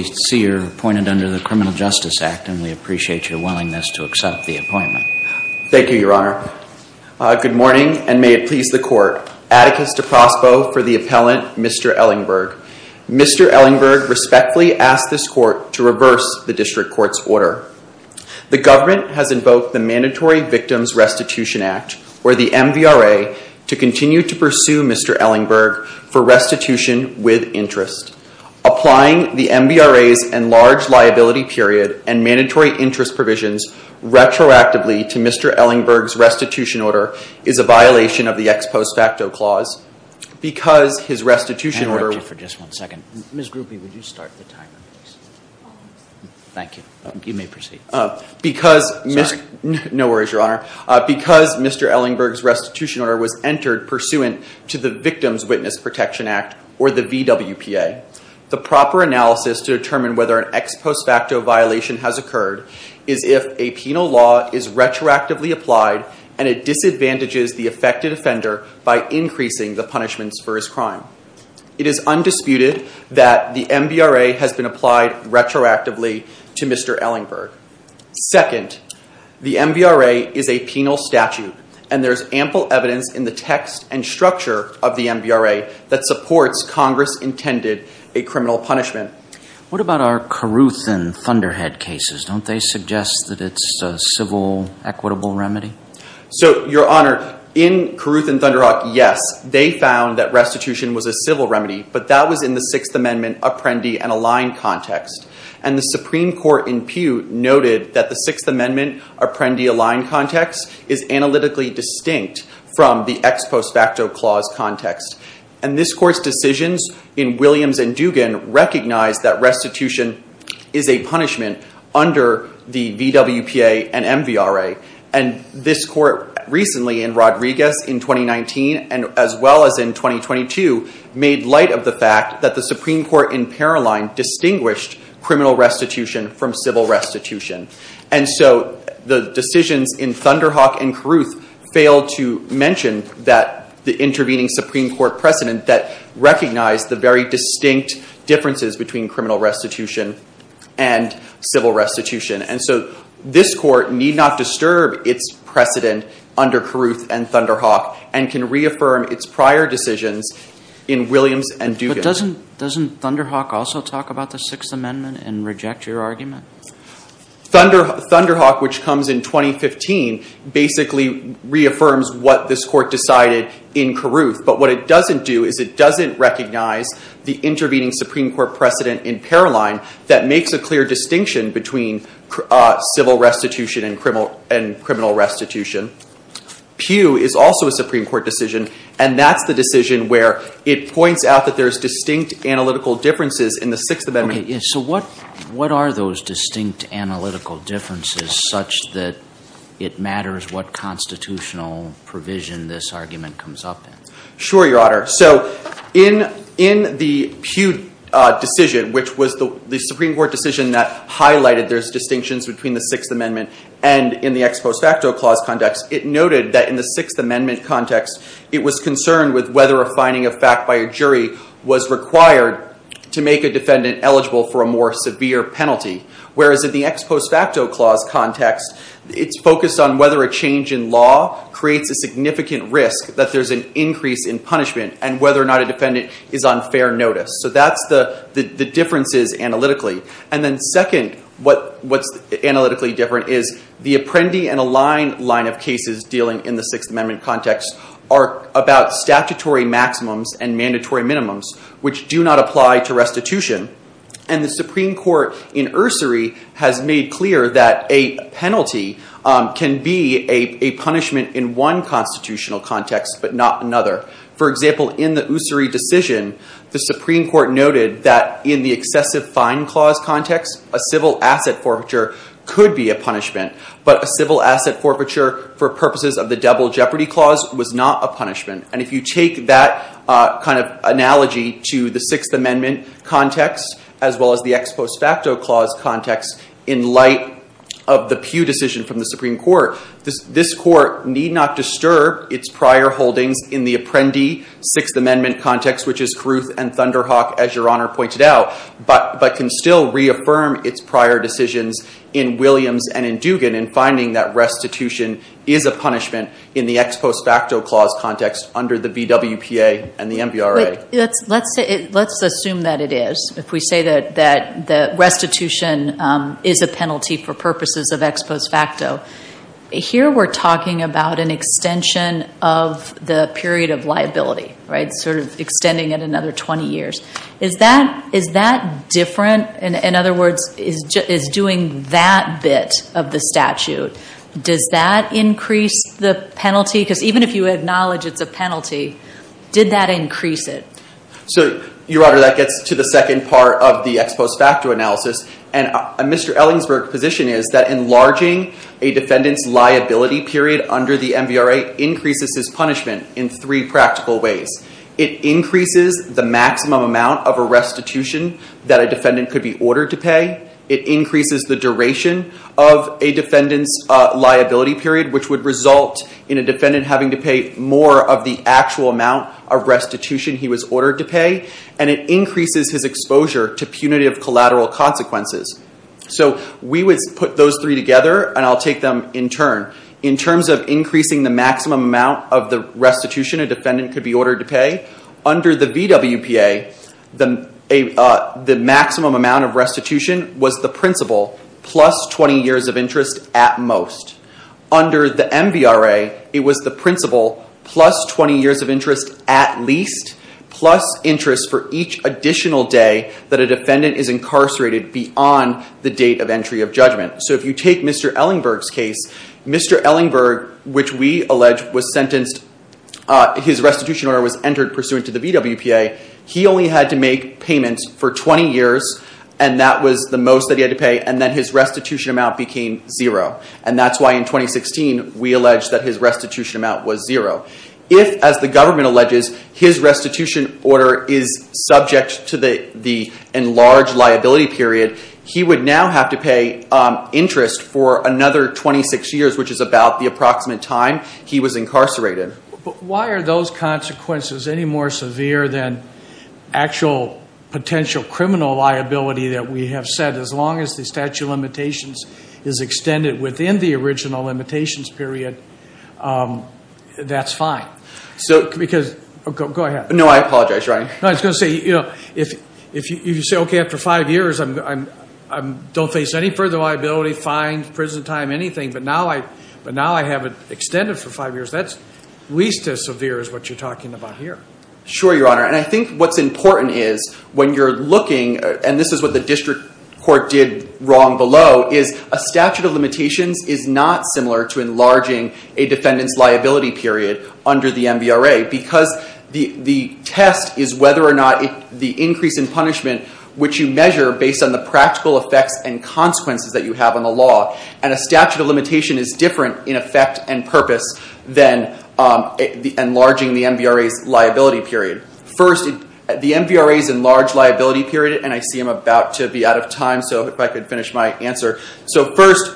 under the Criminal Justice Act and we appreciate your willingness to accept the appointment. Thank you, Your Honor. Good morning, and may it please the Court, Atticus de Prospero for the Appellant, Mr. Ellingburg. Mr. Ellingburg respectfully asks this Court to reverse the District Court's order. The Government has invoked the Mandatory Victims Restitution Act, or the MVRA, to continue to pursue Mr. Ellingburg for restitution with interest. Applying the MVRA's enlarged liability period and mandatory interest provisions retroactively to Mr. Ellingburg's restitution order is a violation of the Ex Post Facto Clause. Because his restitution order... Can I interrupt you for just one second? Ms. Grupe, would you start the timer, please? Thank you. You may proceed. Because... Sorry. No worries, Your Honor. Because Mr. Ellingburg's restitution order was entered pursuant to the Victims Witness Protection Act, or the VWPA, the proper analysis to determine whether an ex post facto violation has occurred is if a penal law is retroactively applied and it disadvantages the affected offender by increasing the punishments for his crime. It is undisputed that the MVRA has been applied retroactively to Mr. Ellingburg. Second, the MVRA is a penal statute, and there is ample evidence in the text and structure of the MVRA that supports Congress intended a criminal punishment. What about our Carruthan Thunderhead cases? Don't they suggest that it's a civil, equitable remedy? So, Your Honor, in Carruthan Thunderhawk, yes, they found that restitution was a civil remedy, but that was in the Sixth Amendment Apprendi and Align context. And the Supreme Court in Pew noted that the Sixth Amendment Apprendi Align context is analytically distinct from the ex post facto clause context. And this Court's decisions in Williams and Dugan recognize that restitution is a punishment under the VWPA and MVRA. And this Court recently in Rodriguez in 2019, as well as in 2022, made light of the fact that the Supreme Court in Paroline distinguished criminal restitution from civil restitution. And so the decisions in Thunderhawk and Carruth failed to mention the intervening Supreme Court precedent that recognized the very distinct differences between criminal restitution and civil restitution. And so this Court need not disturb its precedent under Carruth and Thunderhawk and can reaffirm its prior decisions in Williams and Dugan. But doesn't Thunderhawk also talk about the Sixth Amendment and reject your argument? Thunderhawk, which comes in 2015, basically reaffirms what this Court decided in Carruth. But what it doesn't do is it doesn't recognize the intervening Supreme Court precedent in Paroline that makes a clear distinction between civil restitution and criminal restitution. Pew is also a Supreme Court decision, and that's the decision where it points out that there's distinct analytical differences in the Sixth Amendment. So what are those distinct analytical differences such that it matters what constitutional provision this argument comes up in? Sure, Your Honor. So in the Pew decision, which was the Supreme Court decision that highlighted there's distinctions between the Sixth Amendment and in the ex post facto clause context, it noted that in the Sixth Amendment context, it was concerned with whether a finding of fact by a jury was required to make a defendant eligible for a more severe penalty. Whereas in the ex post facto clause context, it's focused on whether a change in law creates a significant risk that there's an increase in punishment and whether or not a defendant is on fair notice. So that's the differences analytically. And then second, what's analytically different is the Apprendi and Align line of cases dealing in the Sixth Amendment context are about statutory maximums and mandatory minimums, which do not apply to restitution. And the Supreme Court in Ursery has made clear that a penalty can be a punishment in one constitutional context, but not another. For example, in the Ursery decision, the Supreme Court noted that in the excessive fine clause context, a civil asset forfeiture could be a punishment. But a civil asset forfeiture for purposes of the double jeopardy clause was not a punishment. And if you take that kind of analogy to the Sixth Amendment context, as well as the ex post facto clause context, in light of the Pew decision from the Supreme Court, this court need not disturb its prior holdings in the Apprendi Sixth Amendment context, which is Caruth and Thunderhawk, as Your Honor pointed out, but can still reaffirm its prior decisions in Williams and in Dugan in finding that restitution is a punishment in the ex post facto clause context under the BWPA and the MBRA. Let's assume that it is, if we say that restitution is a penalty for purposes of ex post facto. Here we're talking about an extension of the period of liability, sort of extending it another 20 years. Is that different? In other words, is doing that bit of the statute, does that increase the penalty? Because even if you acknowledge it's a penalty, did that increase it? Your Honor, that gets to the second part of the ex post facto analysis. Mr. Ellingsburg's position is that enlarging a defendant's liability period under the MBRA increases his punishment in three practical ways. It increases the maximum amount of a restitution that a defendant could be ordered to pay. It increases the duration of a defendant's liability period, which would result in a defendant having to pay more of the actual amount of restitution he was ordered to pay. It increases his exposure to punitive collateral consequences. We would put those three together and I'll take them in turn. In terms of increasing the maximum amount of the restitution a defendant could be ordered to pay, under the VWPA, the maximum amount of restitution was the principle, plus 20 years of interest at most. Under the MBRA, it was the principle, plus 20 years of interest at least, plus interest for each additional day that a defendant is incarcerated beyond the date of entry of judgment. If you take Mr. Ellingsburg's case, Mr. Ellingsburg, which we allege was sentenced, his restitution order was entered pursuant to the VWPA, he only had to make payments for 20 years and that was the most that he had to pay and then his restitution amount became zero. That's why in 2016 we allege that his restitution amount was zero. If, as the government alleges, his restitution order is subject to the enlarged liability period, he would now have to pay interest for another 26 years, which is about the approximate time he was incarcerated. But why are those consequences any more severe than actual potential criminal liability that we have said? As long as the statute of limitations is extended within the original limitations period, that's fine. Go ahead. No, I apologize, Ryan. No, I was going to say, if you say, OK, after five years I don't face any further liability, fines, prison time, anything, but now I have it extended for five years, that's at least as severe as what you're talking about here. Sure, Your Honor, and I think what's important is when you're looking, and this is what the district court did wrong below, is a statute of limitations is not similar to enlarging a defendant's liability period under the MVRA because the test is whether or not the increase in punishment, which you measure based on the practical effects and consequences that you have on the law, and a statute of limitation is different in effect and purpose than enlarging the MVRA's liability period. First, the MVRA's enlarged liability period, and I see I'm about to be out of time, so if I could finish my answer. So first,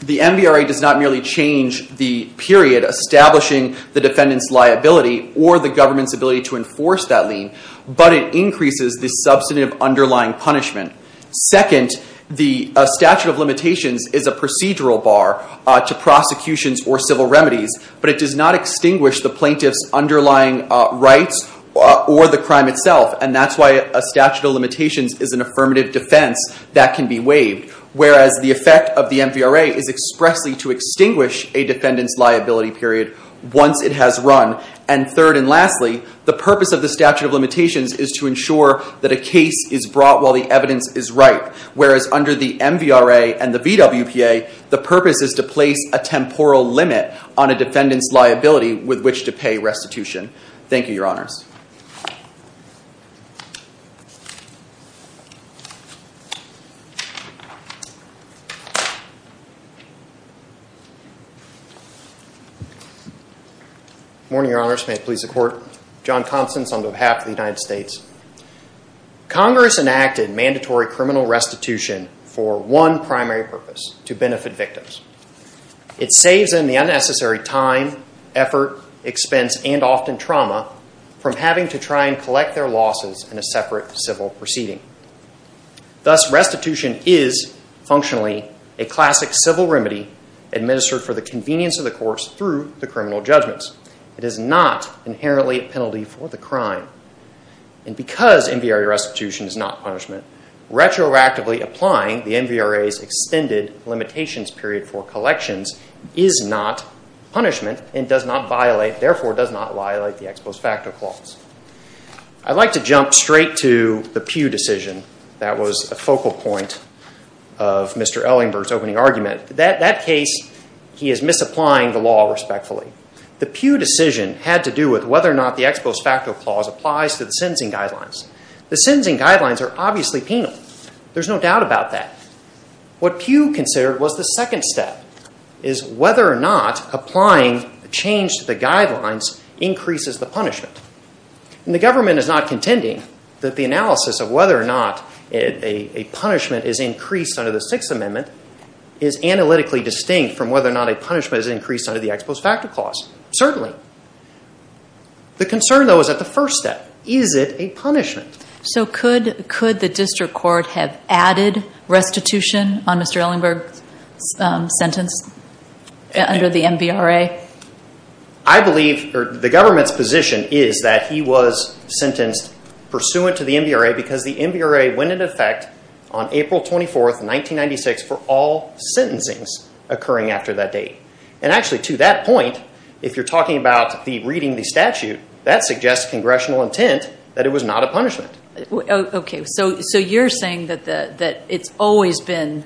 the MVRA does not merely change the period establishing the defendant's liability or the government's ability to enforce that lien, but it increases the substantive underlying punishment. Second, the statute of limitations is a procedural bar to prosecutions or civil remedies, but it does not extinguish the plaintiff's underlying rights or the crime itself, and that's why a statute of limitations is an affirmative defense that can be waived, whereas the effect of the MVRA is expressly to extinguish a defendant's liability period once it has run. And third and lastly, the purpose of the statute of limitations is to ensure that a case is brought while the evidence is right, whereas under the MVRA and the VWPA, the purpose is to place a temporal limit on a defendant's liability with which to pay restitution. Thank you, Your Honors. Morning, Your Honors. May it please the Court. John Constance on behalf of the United States. Congress enacted mandatory criminal restitution for one primary purpose, to benefit victims. It saves them the unnecessary time, effort, expense, and often trauma from having to try and collect their losses in a separate civil proceeding. Thus restitution is functionally a classic civil remedy administered for the convenience of the courts through the criminal judgments. It is not inherently a penalty for the crime. And because MVRA restitution is not punishment, retroactively applying the MVRA's extended limitations period for collections is not punishment and does not violate, therefore does not violate the ex post facto clause. I'd like to jump straight to the Pew decision. That was a focal point of Mr. Ellingberg's opening argument. That case, he is misapplying the law respectfully. The Pew decision had to do with whether or not the ex post facto clause applies to the sentencing guidelines. The sentencing guidelines are obviously penal. There's no doubt about that. What Pew considered was the second step, is whether or not applying change to the guidelines increases the punishment. And the government is not contending that the analysis of whether or not a punishment is increased under the Sixth Amendment is analytically distinct from whether or not a punishment is increased under the ex post facto clause. Certainly. The concern, though, is at the first step. Is it a punishment? So could the district court have added restitution on Mr. Ellingberg's sentence under the MVRA? I believe the government's position is that he was sentenced pursuant to the MVRA because the MVRA went into effect on April 24th, 1996 for all sentencings occurring after that date. And actually to that point, if you're talking about the reading of the statute, that suggests congressional intent that it was not a punishment. Okay. So you're saying that it's always been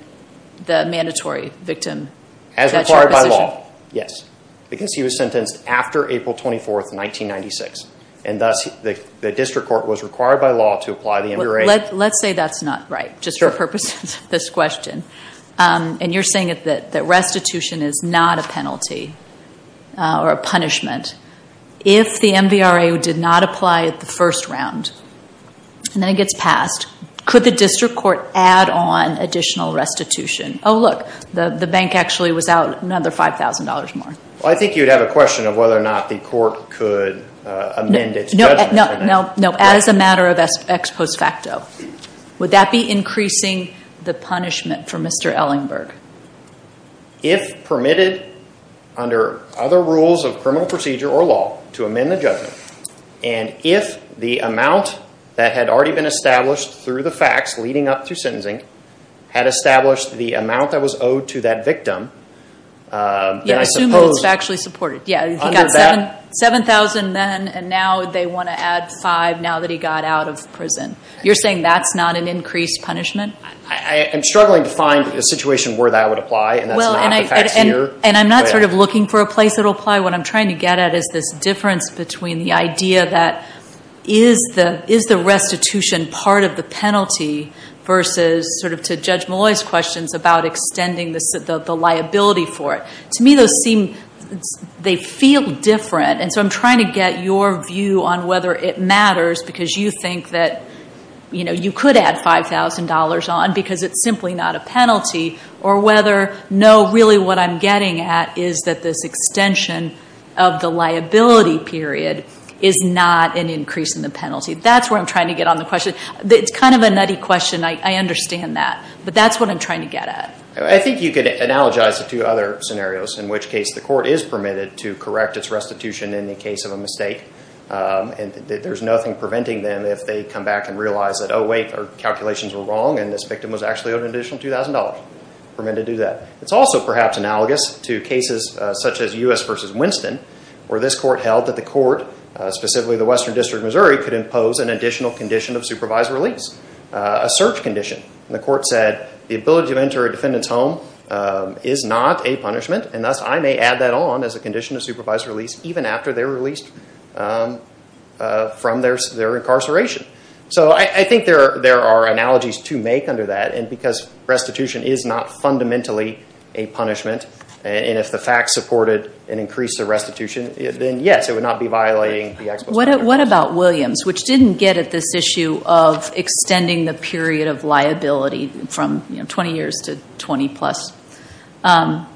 the mandatory victim? As required by law. Yes. Because he was sentenced after April 24th, 1996. And thus the district court was required by law to apply the MVRA. Let's say that's not right, just for purposes of this question. And you're saying that restitution is not a penalty or a punishment. If the MVRA did not apply at the first round and then it gets passed, could the district court add on additional restitution? Oh, look, the bank actually was out another $5,000 more. I think you'd have a question of whether or not the court could amend its judgment. No, as a matter of ex post facto. Would that be permitted under other rules of criminal procedure or law to amend the judgment? And if the amount that had already been established through the facts leading up to sentencing had established the amount that was owed to that victim, then I suppose... Yeah, assuming it's factually supported. Yeah, he got $7,000 then and now they want to add $5,000 now that he got out of prison. You're saying that's not an increased punishment? I'm struggling to find a situation where that would apply and that's not the facts here. And I'm not sort of looking for a place it'll apply. What I'm trying to get at is this difference between the idea that is the restitution part of the penalty versus, to Judge Malloy's questions, about extending the liability for it. To me, they feel different. And so I'm trying to get your view on whether it matters because you think that you could add $5,000 on because it's simply not a penalty or whether no, really what I'm getting at is that this extension of the liability period is not an increase in the penalty. That's where I'm trying to get on the question. It's kind of a nutty question. I understand that. But that's what I'm trying to get at. I think you could analogize it to other scenarios in which case the court is permitted to correct its restitution in the case of a mistake and there's nothing preventing them if they come back and realize that, oh wait, our calculations were wrong and this victim was actually owed an additional $2,000. Permitted to do that. It's also perhaps analogous to cases such as U.S. v. Winston where this court held that the court, specifically the Western District of Missouri, could impose an additional condition of supervised release, a search condition. The court said the ability to enter a defendant's home is not a punishment and thus I may add that on as a condition of supervised release even after they're released from their incarceration. So I think there are analogies to make under that and because restitution is not fundamentally a punishment and if the facts support it and increase the restitution, then yes, it would not be violating the expo standard. What about Williams, which didn't get at this issue of extending the period of liability from 20 years to 20 plus? And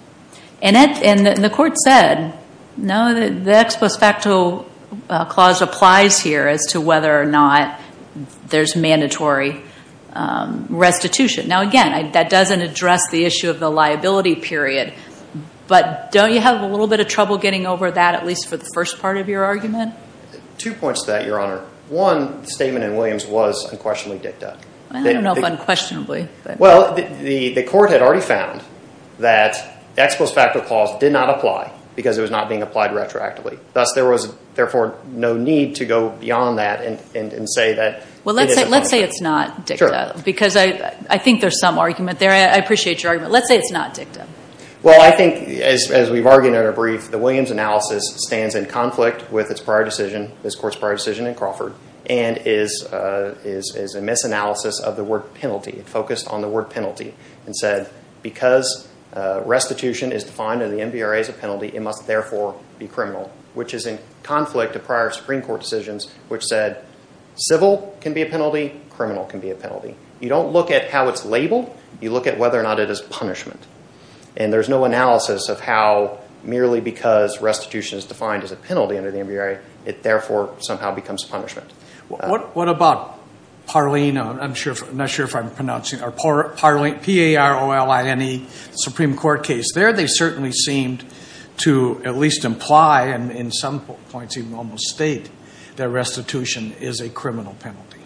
the court said, no, the ex post facto clause applies here as to whether or not there's mandatory restitution. Now again, that doesn't address the issue of the liability period, but don't you have a little bit of trouble getting over that, at least for the first part of your argument? Two points to that, Your Honor. One, the statement in Williams was unquestionably dicta. I don't know if unquestionably. Well, the court had already found that the ex post facto clause did not apply because it was not being applied retroactively. Thus, there was therefore no need to go beyond that and say that it is a punishment. Well, let's say it's not dicta because I think there's some argument there. I appreciate your argument. Let's say it's not dicta. Well, I think as we've argued in our brief, the Williams analysis stands in conflict with its prior decision, this court's prior decision in Crawford, and is a misanalysis of the word penalty. It focused on the word penalty and said because restitution is defined in the MVRA as a penalty, it must therefore be criminal, which is in conflict to prior Supreme Court decisions, which said civil can be a penalty, criminal can be a penalty. You don't look at how it's labeled. You look at whether or not it is punishment. And there's no analysis of how merely because restitution is defined as a penalty under the MVRA, it therefore somehow becomes punishment. What about Parleen, I'm not sure if I'm pronouncing, Parleen, P-A-R-O-L-E-N-E, Supreme Court case. There they certainly seemed to at least imply, and in some points even almost state, that restitution is a criminal penalty.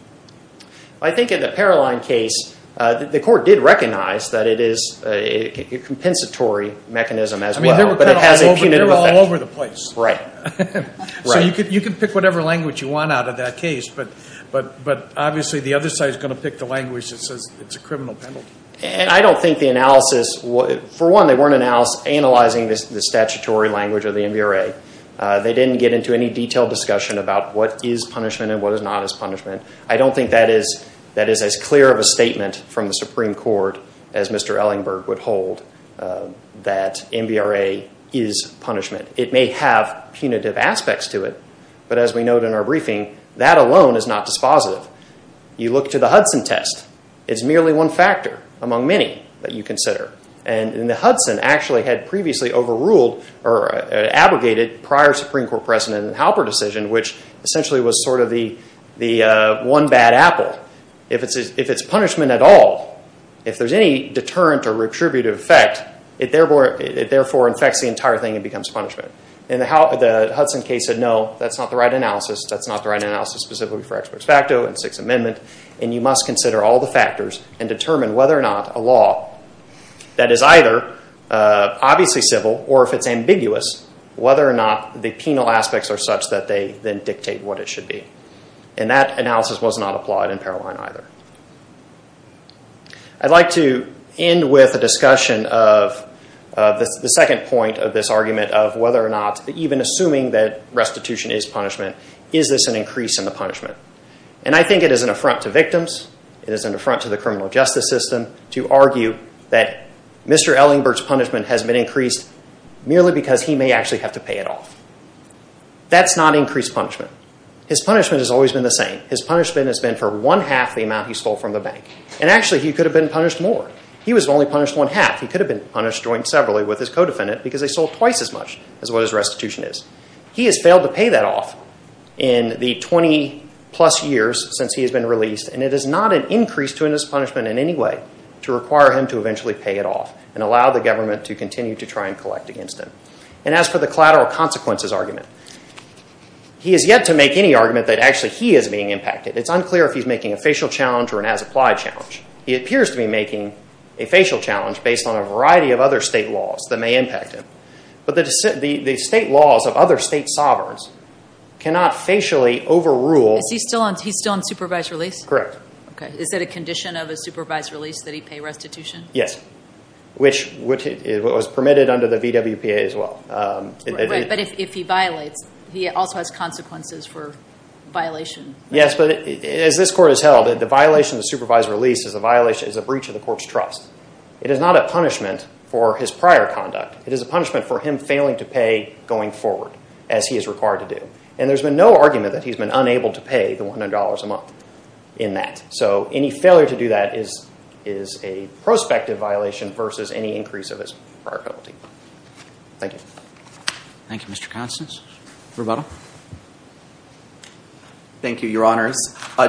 I think in the Parleen case, the court did recognize that it is a compensatory mechanism as well, but it has a punitive effect. They're all over the place. Right. So you can pick whatever language you want out of that case, but obviously the other side is going to pick the language that says it's a criminal penalty. And I don't think the analysis, for one they weren't analyzing the statutory language of the MVRA. They didn't get into any detailed discussion about what is punishment and what is not as punishment. I don't think that is as clear of a statement from the Supreme Court as Mr. Ellingberg would hold that MVRA is punishment. It may have punitive aspects to it, but as we note in our case, it's merely one factor among many that you consider. And the Hudson actually had previously overruled or abrogated prior Supreme Court precedent in the Halper decision, which essentially was sort of the one bad apple. If it's punishment at all, if there's any deterrent or retributive effect, it therefore infects the entire thing and becomes punishment. And the Hudson case said no, that's not the right analysis. Specifically for expert facto and Sixth Amendment. And you must consider all the factors and determine whether or not a law that is either obviously civil or if it's ambiguous, whether or not the penal aspects are such that they then dictate what it should be. And that analysis was not applied in Paroline either. I'd like to end with a discussion of the second point of this argument of whether or not even assuming that restitution is punishment, is this an increase in the punishment? And I think it is an affront to victims. It is an affront to the criminal justice system to argue that Mr. Ellingberg's punishment has been increased merely because he may actually have to pay it off. That's not increased punishment. His punishment has always been the same. His punishment has been for one half the amount he stole from the bank. And actually he could have been punished more. He was only punished one half. He could have been punished jointly with his co-defendant because they sold twice as much as what his restitution is. He has failed to pay that off in the 20 plus years since he has been released. And it is not an increase to his punishment in any way to require him to eventually pay it off and allow the government to continue to try and collect against him. And as for the collateral consequences argument, he has yet to make any argument that actually he is being impacted. It is unclear if he is making a facial challenge or an as-applied challenge. He appears to be making a facial challenge based on a variety of other state laws that may impact him. But the state laws of other state sovereigns cannot facially overrule... Is he still on supervised release? Correct. Is that a condition of a supervised release that he pay restitution? Yes. Which was permitted under the VWPA as well. Right. But if he violates, he also has consequences for violation. Yes. But as this court has held, the violation of supervised release is a breach of the court's trust. It is not a punishment for his prior conduct. It is a punishment for him failing to pay going forward as he is required to do. And there has been no argument that he has been unable to pay the $100 a month in that. So any failure to do that is a prospective violation versus any increase of his prior penalty. Thank you. Thank you, Mr. Constance. Rebuttal? Thank you, Your Honors.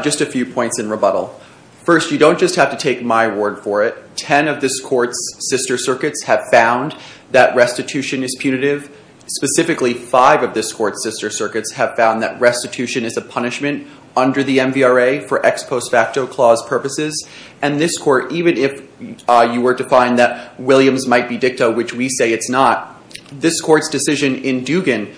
Just a few points in rebuttal. First, you don't just have to take my word for it. Ten of this court's sister circuits have found that restitution is punitive. Specifically, five of this court's sister circuits have found that restitution is a punishment under the MVRA for ex post facto clause purposes. And this court, even if you were to find that Williams might be dicta, which we say it's not, this court's decision in Dugan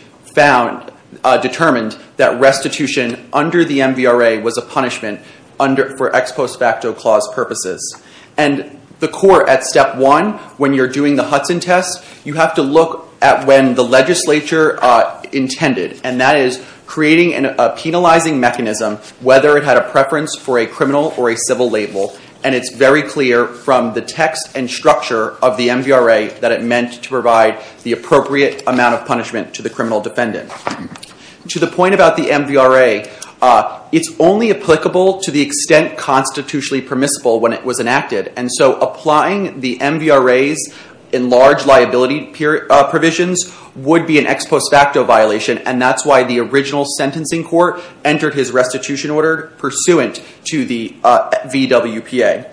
determined that restitution under the MVRA was a punishment for ex post facto clause purposes. And the court at step one, when you're doing the Hudson test, you have to look at when the legislature intended, and that is creating a penalizing mechanism, whether it had a preference for a criminal or a civil label. And it's very clear from the text and structure of the MVRA that it meant to provide the appropriate amount of punishment to the criminal defendant. To the point about the MVRA, it's only applicable to the extent constitutionally permissible when it was enacted. And so applying the MVRA's enlarged liability provisions would be an ex post facto violation. And that's why the original sentencing court entered his restitution order pursuant to the VWPA.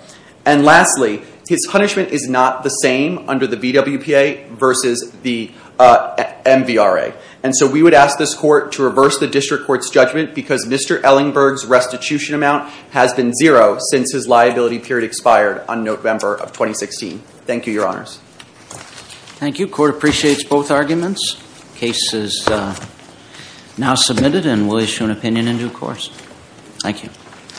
And lastly, his punishment is not the same under the VWPA versus the MVRA. And so we would ask this court to reverse the district court's judgment because Mr. Ellingberg's restitution amount has been zero since his liability period expired on November of 2016. Thank you, your honors. Thank you. Court appreciates both arguments. Case is now submitted and we'll issue an opinion in due course. Thank you.